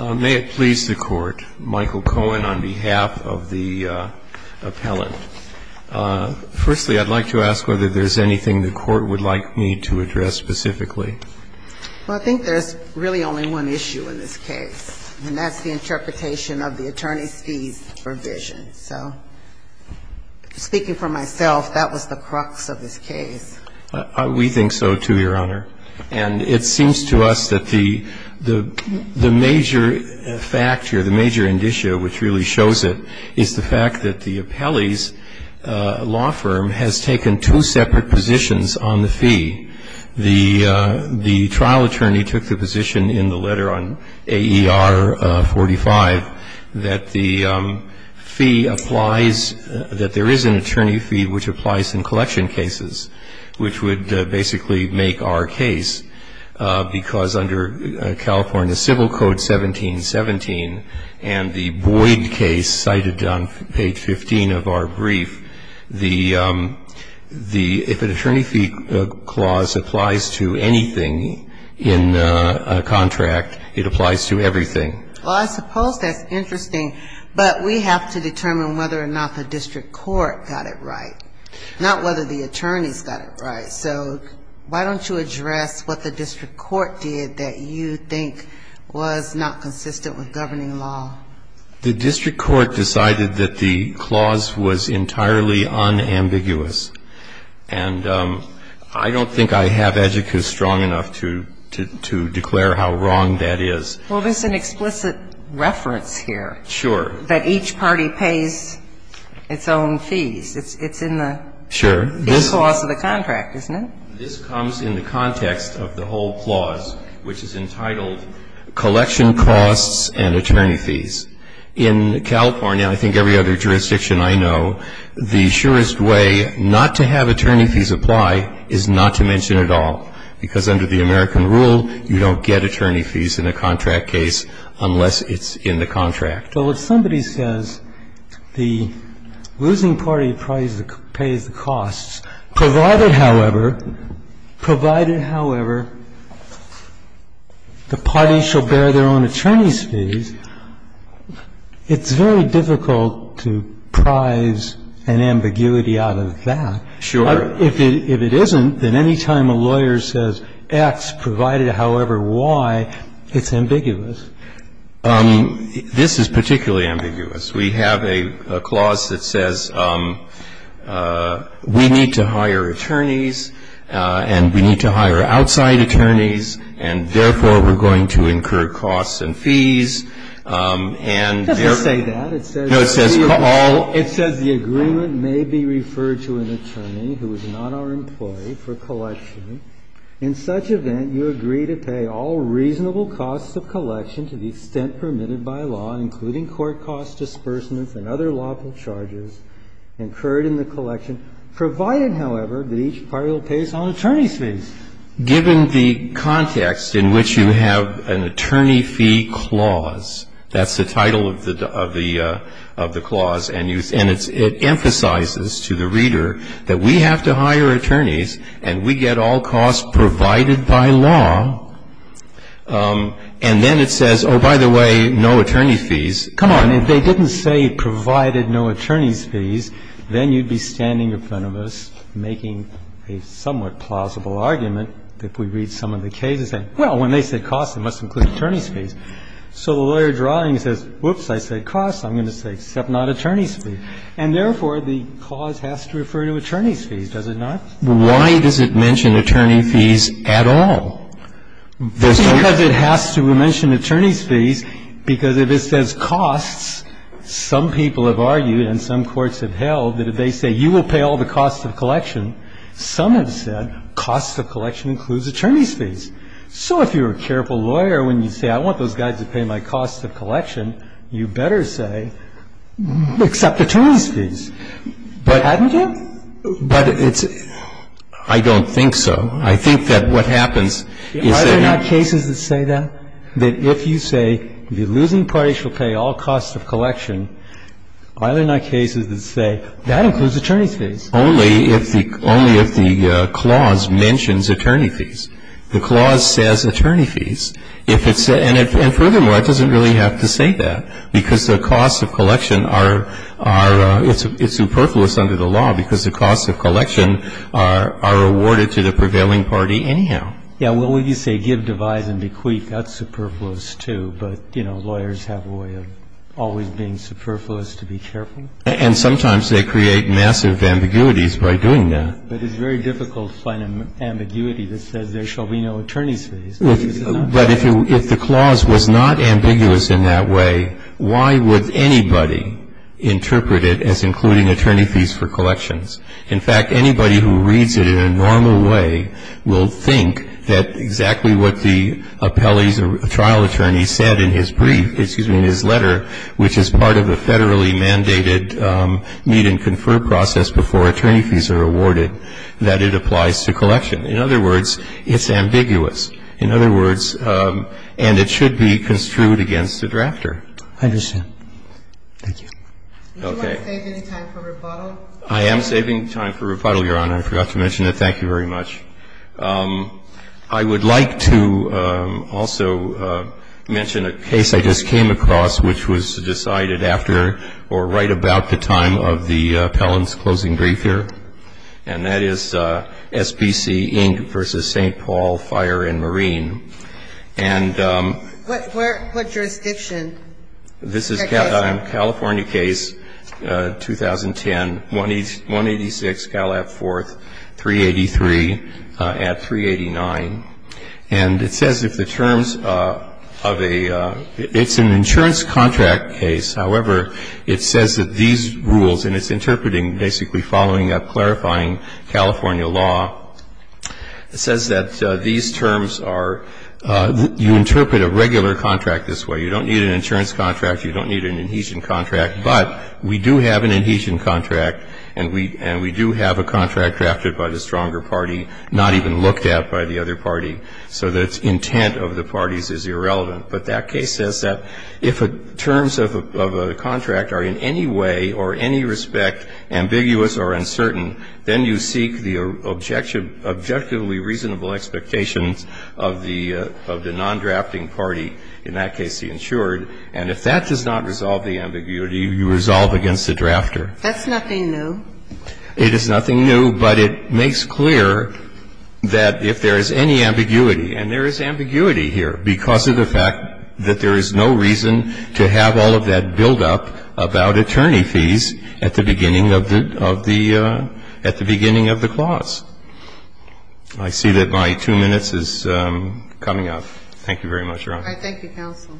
May it please the Court, Michael Cohen on behalf of the appellant. Firstly, I'd like to ask whether there's anything the Court would like me to address specifically. Well, I think there's really only one issue in this case, and that's the interpretation of the attorney's fees provision. So speaking for myself, that was the crux of this case. We think so, too, Your Honor. And it seems to us that the major factor, the major indicia which really shows it is the fact that the appellee's law firm has taken two separate positions on the fee. The trial attorney took the position in the letter on AER 45 that the fee applies, that there is an attorney fee which applies in collection cases, which would basically make our case, because under California Civil Code 1717 and the Boyd case cited on page 15 of our brief, the the if an attorney fee clause applies to anything in a contract, it applies to everything. Well, I suppose that's interesting, but we have to determine whether or not the district court got it right. Not whether the attorneys got it right. So why don't you address what the district court did that you think was not consistent with governing law? The district court decided that the clause was entirely unambiguous. And I don't think I have adjocacy strong enough to declare how wrong that is. Well, there's an explicit reference here. Sure. That each party pays its own fees. It's in the clause of the contract, isn't it? This comes in the context of the whole clause, which is entitled, collection costs and attorney fees. In California, I think every other jurisdiction I know, the surest way not to have attorney fees apply is not to mention it at all. Because under the American rule, you don't get attorney fees in a contract case unless it's in the contract. So if somebody says the losing party pays the costs, provided, however, provided, however, the party shall bear their own attorney's fees, it's very difficult to prize an ambiguity out of that. Sure. If it isn't, then any time a lawyer says X, provided, however, Y, it's ambiguous. This is particularly ambiguous. We have a clause that says we need to hire attorneys and we need to hire outside attorneys, and therefore we're going to incur costs and fees, and therefore It doesn't say that. It says the agreement may be referred to an attorney who is not our employee for collection. In such an event, you agree to pay all reasonable costs of collection to the extent permitted by law, including court costs, disbursements, and other lawful charges incurred in the collection, provided, however, that each party will pay its own attorney's fees. Given the context in which you have an attorney fee clause, that's the title of the clause, and it emphasizes to the reader that we have to hire attorneys and we get all costs provided by law, and then it says, oh, by the way, no attorney fees. Come on. If they didn't say provided no attorney's fees, then you'd be standing in front of us making a somewhat plausible argument that we read some of the cases and say, well, when they say costs, it must include attorney's fees. So the lawyer drawing says, whoops, I said costs, I'm going to say except not attorney's fees, and therefore the clause has to refer to attorney's fees, does it not? Why does it mention attorney fees at all? There's no need to mention attorney's fees, because if it says costs, some people have argued and some courts have held that if they say, you will pay all the costs of collection, some have said cost of collection includes attorney's fees. So if you're a careful lawyer, when you say, I want those guys to pay my cost of collection, you better say, except attorney's fees, but hadn't you? But it's – I don't think so. I think that what happens is that you – Are there not cases that say that? That if you say, if you're losing, the party shall pay all costs of collection, are there not cases that say, that includes attorney's fees? Only if the clause mentions attorney fees. The clause says attorney fees. If it's – and furthermore, it doesn't really have to say that, because the costs of collection are – are – it's superfluous under the law, because the costs of collection are – are awarded to the prevailing party anyhow. Yeah, well, when you say give, devise, and bequeath, that's superfluous, too. But, you know, lawyers have a way of always being superfluous to be careful. And sometimes they create massive ambiguities by doing that. But it's very difficult to find an ambiguity that says, there shall be no attorney's fees. But if you – if the clause was not ambiguous in that way, why would anybody interpret it as including attorney fees for collections? In fact, anybody who reads it in a normal way will think that exactly what the appellee's or trial attorney said in his brief – excuse me, in his letter, which is part of a federally mandated meet and confer process before attorney fees are awarded, that it applies to collection. In other words, it's ambiguous. In other words – and it should be construed against the drafter. I understand. Thank you. Okay. Would you like to save any time for rebuttal? I am saving time for rebuttal, Your Honor. I forgot to mention it. Thank you very much. I would like to also mention a case I just came across which was decided after or right about the time of the appellant's closing brief here, and that is SBC Inc. v. St. Paul Fire and Marine. And – What jurisdiction? This is a California case, 2010, 186 Calab Fourth, 383 at 389. And it says if the terms of a – it's an insurance contract case. However, it says that these rules, and it's interpreting basically following up clarifying California law, it says that these terms are – you interpret a regular contract this way. You don't need an insurance contract. You don't need an adhesion contract. But we do have an adhesion contract, and we do have a contract drafted by the stronger party, not even looked at by the other party. So the intent of the parties is irrelevant. But that case says that if the terms of a contract are in any way or any respect ambiguous or uncertain, then you seek the objectively reasonable expectations of the non-drafting party, in that case the insured. And if that does not resolve the ambiguity, you resolve against the drafter. That's nothing new. It is nothing new, but it makes clear that if there is any ambiguity – and there is ambiguity here because of the fact that there is no reason to have all of that buildup about attorney fees at the beginning of the – at the beginning of the clause. I see that my two minutes is coming up. Thank you very much, Your Honor. All right. Thank you, counsel.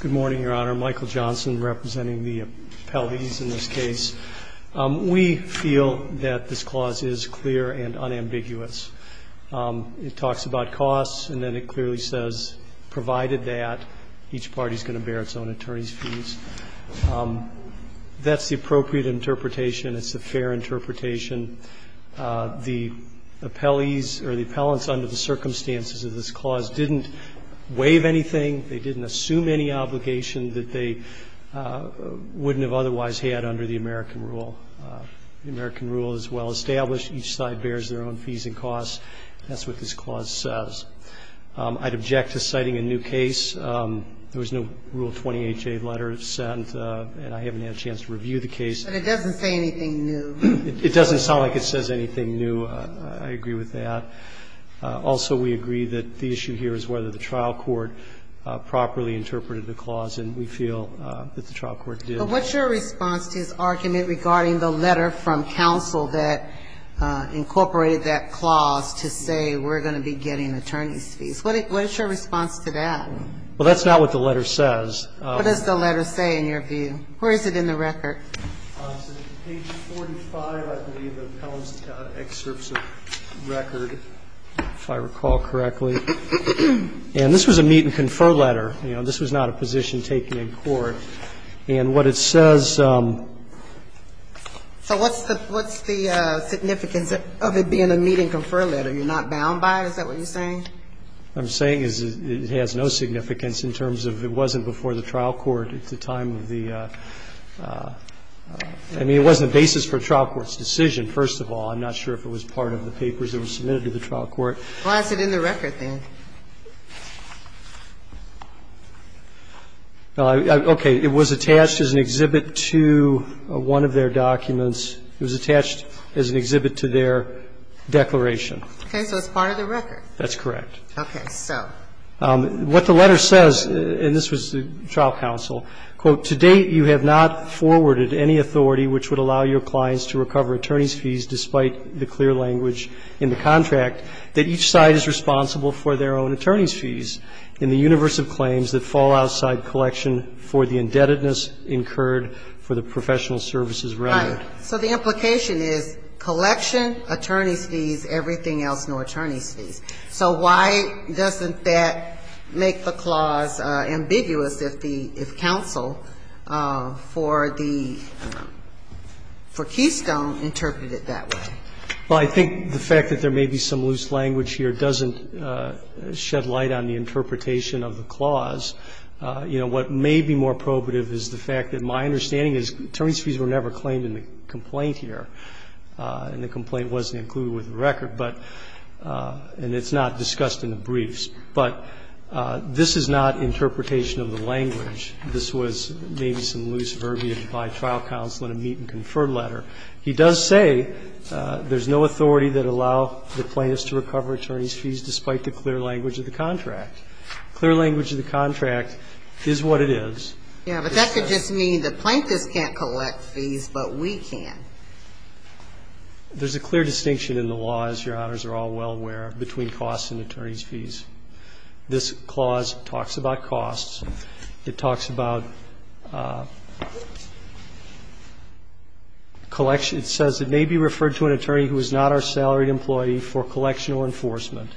Good morning, Your Honor. Michael Johnson representing the appellees in this case. We feel that this clause is clear and unambiguous. It talks about costs, and then it clearly says, provided that, each party is going to bear its own attorney's fees. That's the appropriate interpretation. It's a fair interpretation. The appellees or the appellants under the circumstances of this clause didn't waive anything. They didn't assume any obligation that they wouldn't have otherwise had under the American rule. The American rule is well established. Each side bears their own fees and costs. That's what this clause says. I'd object to citing a new case. There was no Rule 20HA letter sent, and I haven't had a chance to review the case. But it doesn't say anything new. It doesn't sound like it says anything new. I agree with that. Also, we agree that the issue here is whether the trial court properly interpreted the clause, and we feel that the trial court did. But what's your response to his argument regarding the letter from counsel that incorporated that clause to say we're going to be getting attorney's fees? What's your response to that? Well, that's not what the letter says. What does the letter say, in your view? Where is it in the record? Page 45, I believe, of the Appellants' Excerpts of Record, if I recall correctly. And this was a meet-and-confer letter. You know, this was not a position taken in court. And what it says So what's the significance of it being a meet-and-confer letter? You're not bound by it? Is that what you're saying? What I'm saying is it has no significance in terms of it wasn't before the trial court at the time of the – I mean, it wasn't the basis for a trial court's decision, first of all. I'm not sure if it was part of the papers that were submitted to the trial court. Why is it in the record, then? Well, okay. It was attached as an exhibit to one of their documents. It was attached as an exhibit to their declaration. Okay. So it's part of the record. That's correct. Okay. So. What the letter says, and this was the trial counsel, quote, To date you have not forwarded any authority which would allow your clients to recover attorney's fees despite the clear language in the contract that each side is responsible for their own attorney's fees in the universe of claims that fall outside collection for the indebtedness incurred for the professional services relevant. Right. So the implication is collection, attorney's fees, everything else, no attorney's fees. So why doesn't that make the clause ambiguous if the – if counsel for the – for Keystone interpreted it that way? Well, I think the fact that there may be some loose language here doesn't shed light on the interpretation of the clause. You know, what may be more probative is the fact that my understanding is attorney's fees were never claimed in the complaint here, and the complaint wasn't included with the record, but – and it's not discussed in the briefs. But this is not interpretation of the language. This was maybe some loose verbiage by trial counsel in a meet and confer letter. He does say there's no authority that allow the plaintiffs to recover attorney's fees despite the clear language of the contract. Clear language of the contract is what it is. Yeah, but that could just mean the plaintiffs can't collect fees, but we can. There's a clear distinction in the law, as Your Honors are all well aware, between costs and attorney's fees. This clause talks about costs. It talks about collection. It says it may be referred to an attorney who is not our salaried employee for collection or enforcement.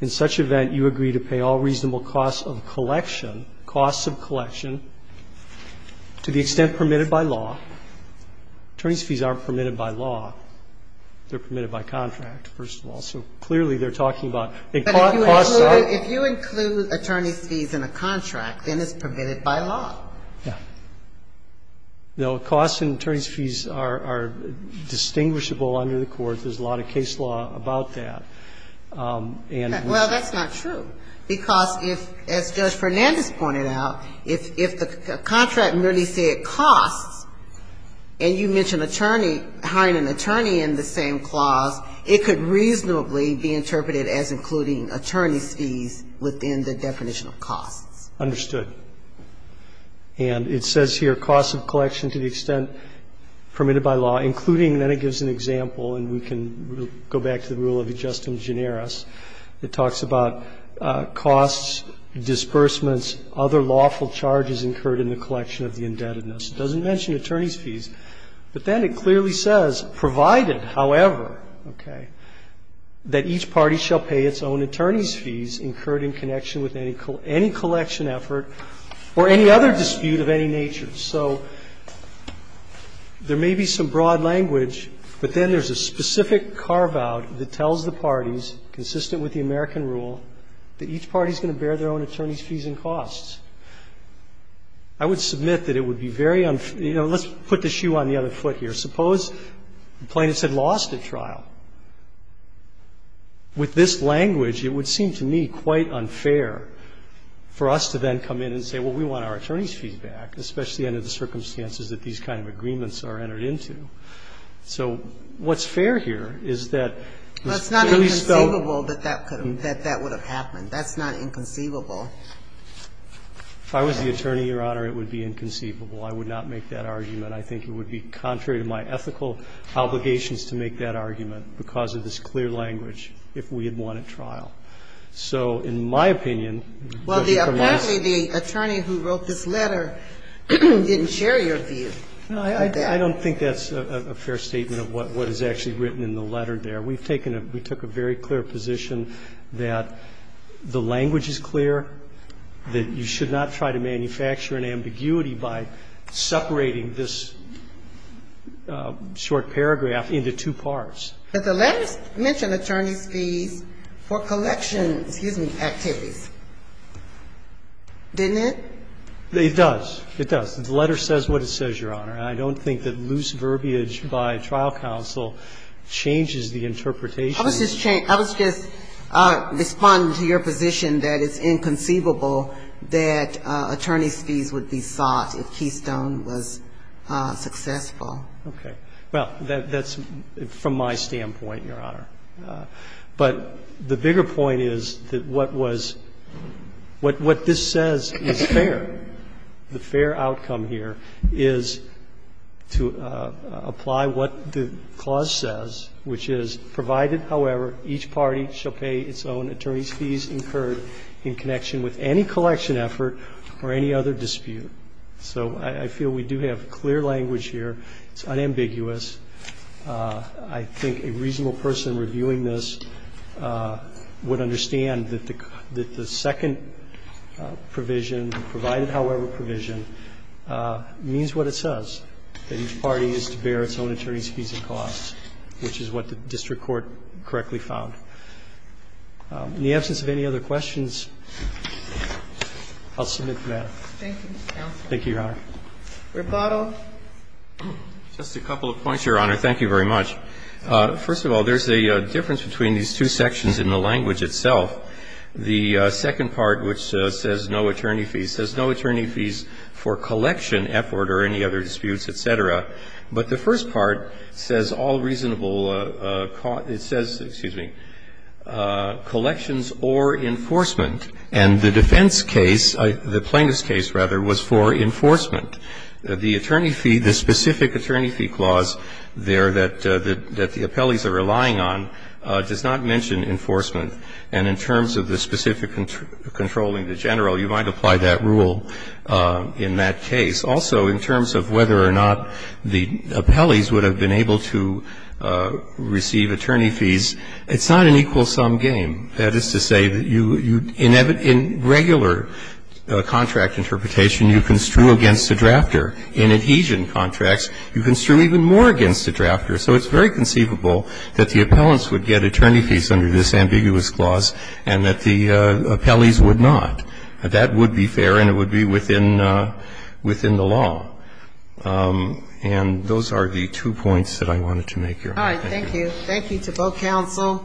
In such event, you agree to pay all reasonable costs of collection, costs of collection to the extent permitted by law. Attorney's fees aren't permitted by law. They're permitted by contract, first of all. So clearly, they're talking about costs of law. But if you include attorney's fees in a contract, then it's permitted by law. Yeah. No, costs and attorney's fees are distinguishable under the court. There's a lot of case law about that. And we say that. Well, that's not true, because if, as Judge Fernandez pointed out, if the contract merely said costs, and you mention attorney, hiring an attorney in the same clause, it could reasonably be interpreted as including attorney's fees within the definition of costs. Understood. And it says here, costs of collection to the extent permitted by law, including then it gives an example, and we can go back to the rule of ad justum generis. It talks about costs, disbursements, other lawful charges incurred in the collection It doesn't mention attorney's fees. But then it clearly says, provided, however, okay, that each party shall pay its own attorney's fees incurred in connection with any collection effort or any other dispute of any nature. So there may be some broad language, but then there's a specific carve-out that tells the parties, consistent with the American rule, that each party is going to bear their own attorney's fees and costs. I would submit that it would be very unfair. You know, let's put the shoe on the other foot here. Suppose the plaintiffs had lost a trial. With this language, it would seem to me quite unfair for us to then come in and say, well, we want our attorney's fees back, especially under the circumstances that these kind of agreements are entered into. So what's fair here is that at least though It's not inconceivable that that could have, that that would have happened. That's not inconceivable. If I was the attorney, Your Honor, it would be inconceivable. I would not make that argument. I think it would be contrary to my ethical obligations to make that argument because of this clear language if we had won at trial. So in my opinion, the Supreme Court must be fair. Well, apparently the attorney who wrote this letter didn't share your view. I don't think that's a fair statement of what is actually written in the letter there. We've taken a, we took a very clear position that the language is clear, that you should not try to manufacture an ambiguity by separating this short paragraph into two parts. But the letter mentioned attorney's fees for collection, excuse me, activities. Didn't it? It does. It does. The letter says what it says, Your Honor. And I don't think that loose verbiage by trial counsel changes the interpretation. I was just, I was just responding to your position that it's inconceivable that attorney's fees would be sought if Keystone was successful. Okay. Well, that's from my standpoint, Your Honor. But the bigger point is that what was, what this says is fair. The fair outcome here is to apply what the clause says, which is, provided, however, each party shall pay its own attorney's fees incurred in connection with any collection effort or any other dispute. So I feel we do have clear language here. It's unambiguous. I think a reasonable person reviewing this would understand that the second provision provided, however, provision, means what it says, that each party is to bear its own attorney's fees and costs, which is what the district court correctly found. In the absence of any other questions, I'll submit for that. Thank you, counsel. Thank you, Your Honor. Rebuttal. Just a couple of points, Your Honor. Thank you very much. First of all, there's a difference between these two sections in the language itself. The second part, which says no attorney fees, says no attorney fees for collection effort or any other disputes, et cetera. But the first part says all reasonable, it says, excuse me, collections or enforcement, and the defense case, the plaintiff's case, rather, was for enforcement. The attorney fee, the specific attorney fee clause there that the appellees are relying on does not mention enforcement. And in terms of the specific controlling the general, you might apply that rule in that case. Also, in terms of whether or not the appellees would have been able to receive attorney fees, it's not an equal sum game. That is to say that you, in regular contract interpretation, you construe against the drafter. In adhesion contracts, you construe even more against the drafter. So it's very conceivable that the appellants would get attorney fees under this ambiguous clause and that the appellees would not. That would be fair and it would be within the law. And those are the two points that I wanted to make, Your Honor. Thank you. Thank you. Thank you to both counsel.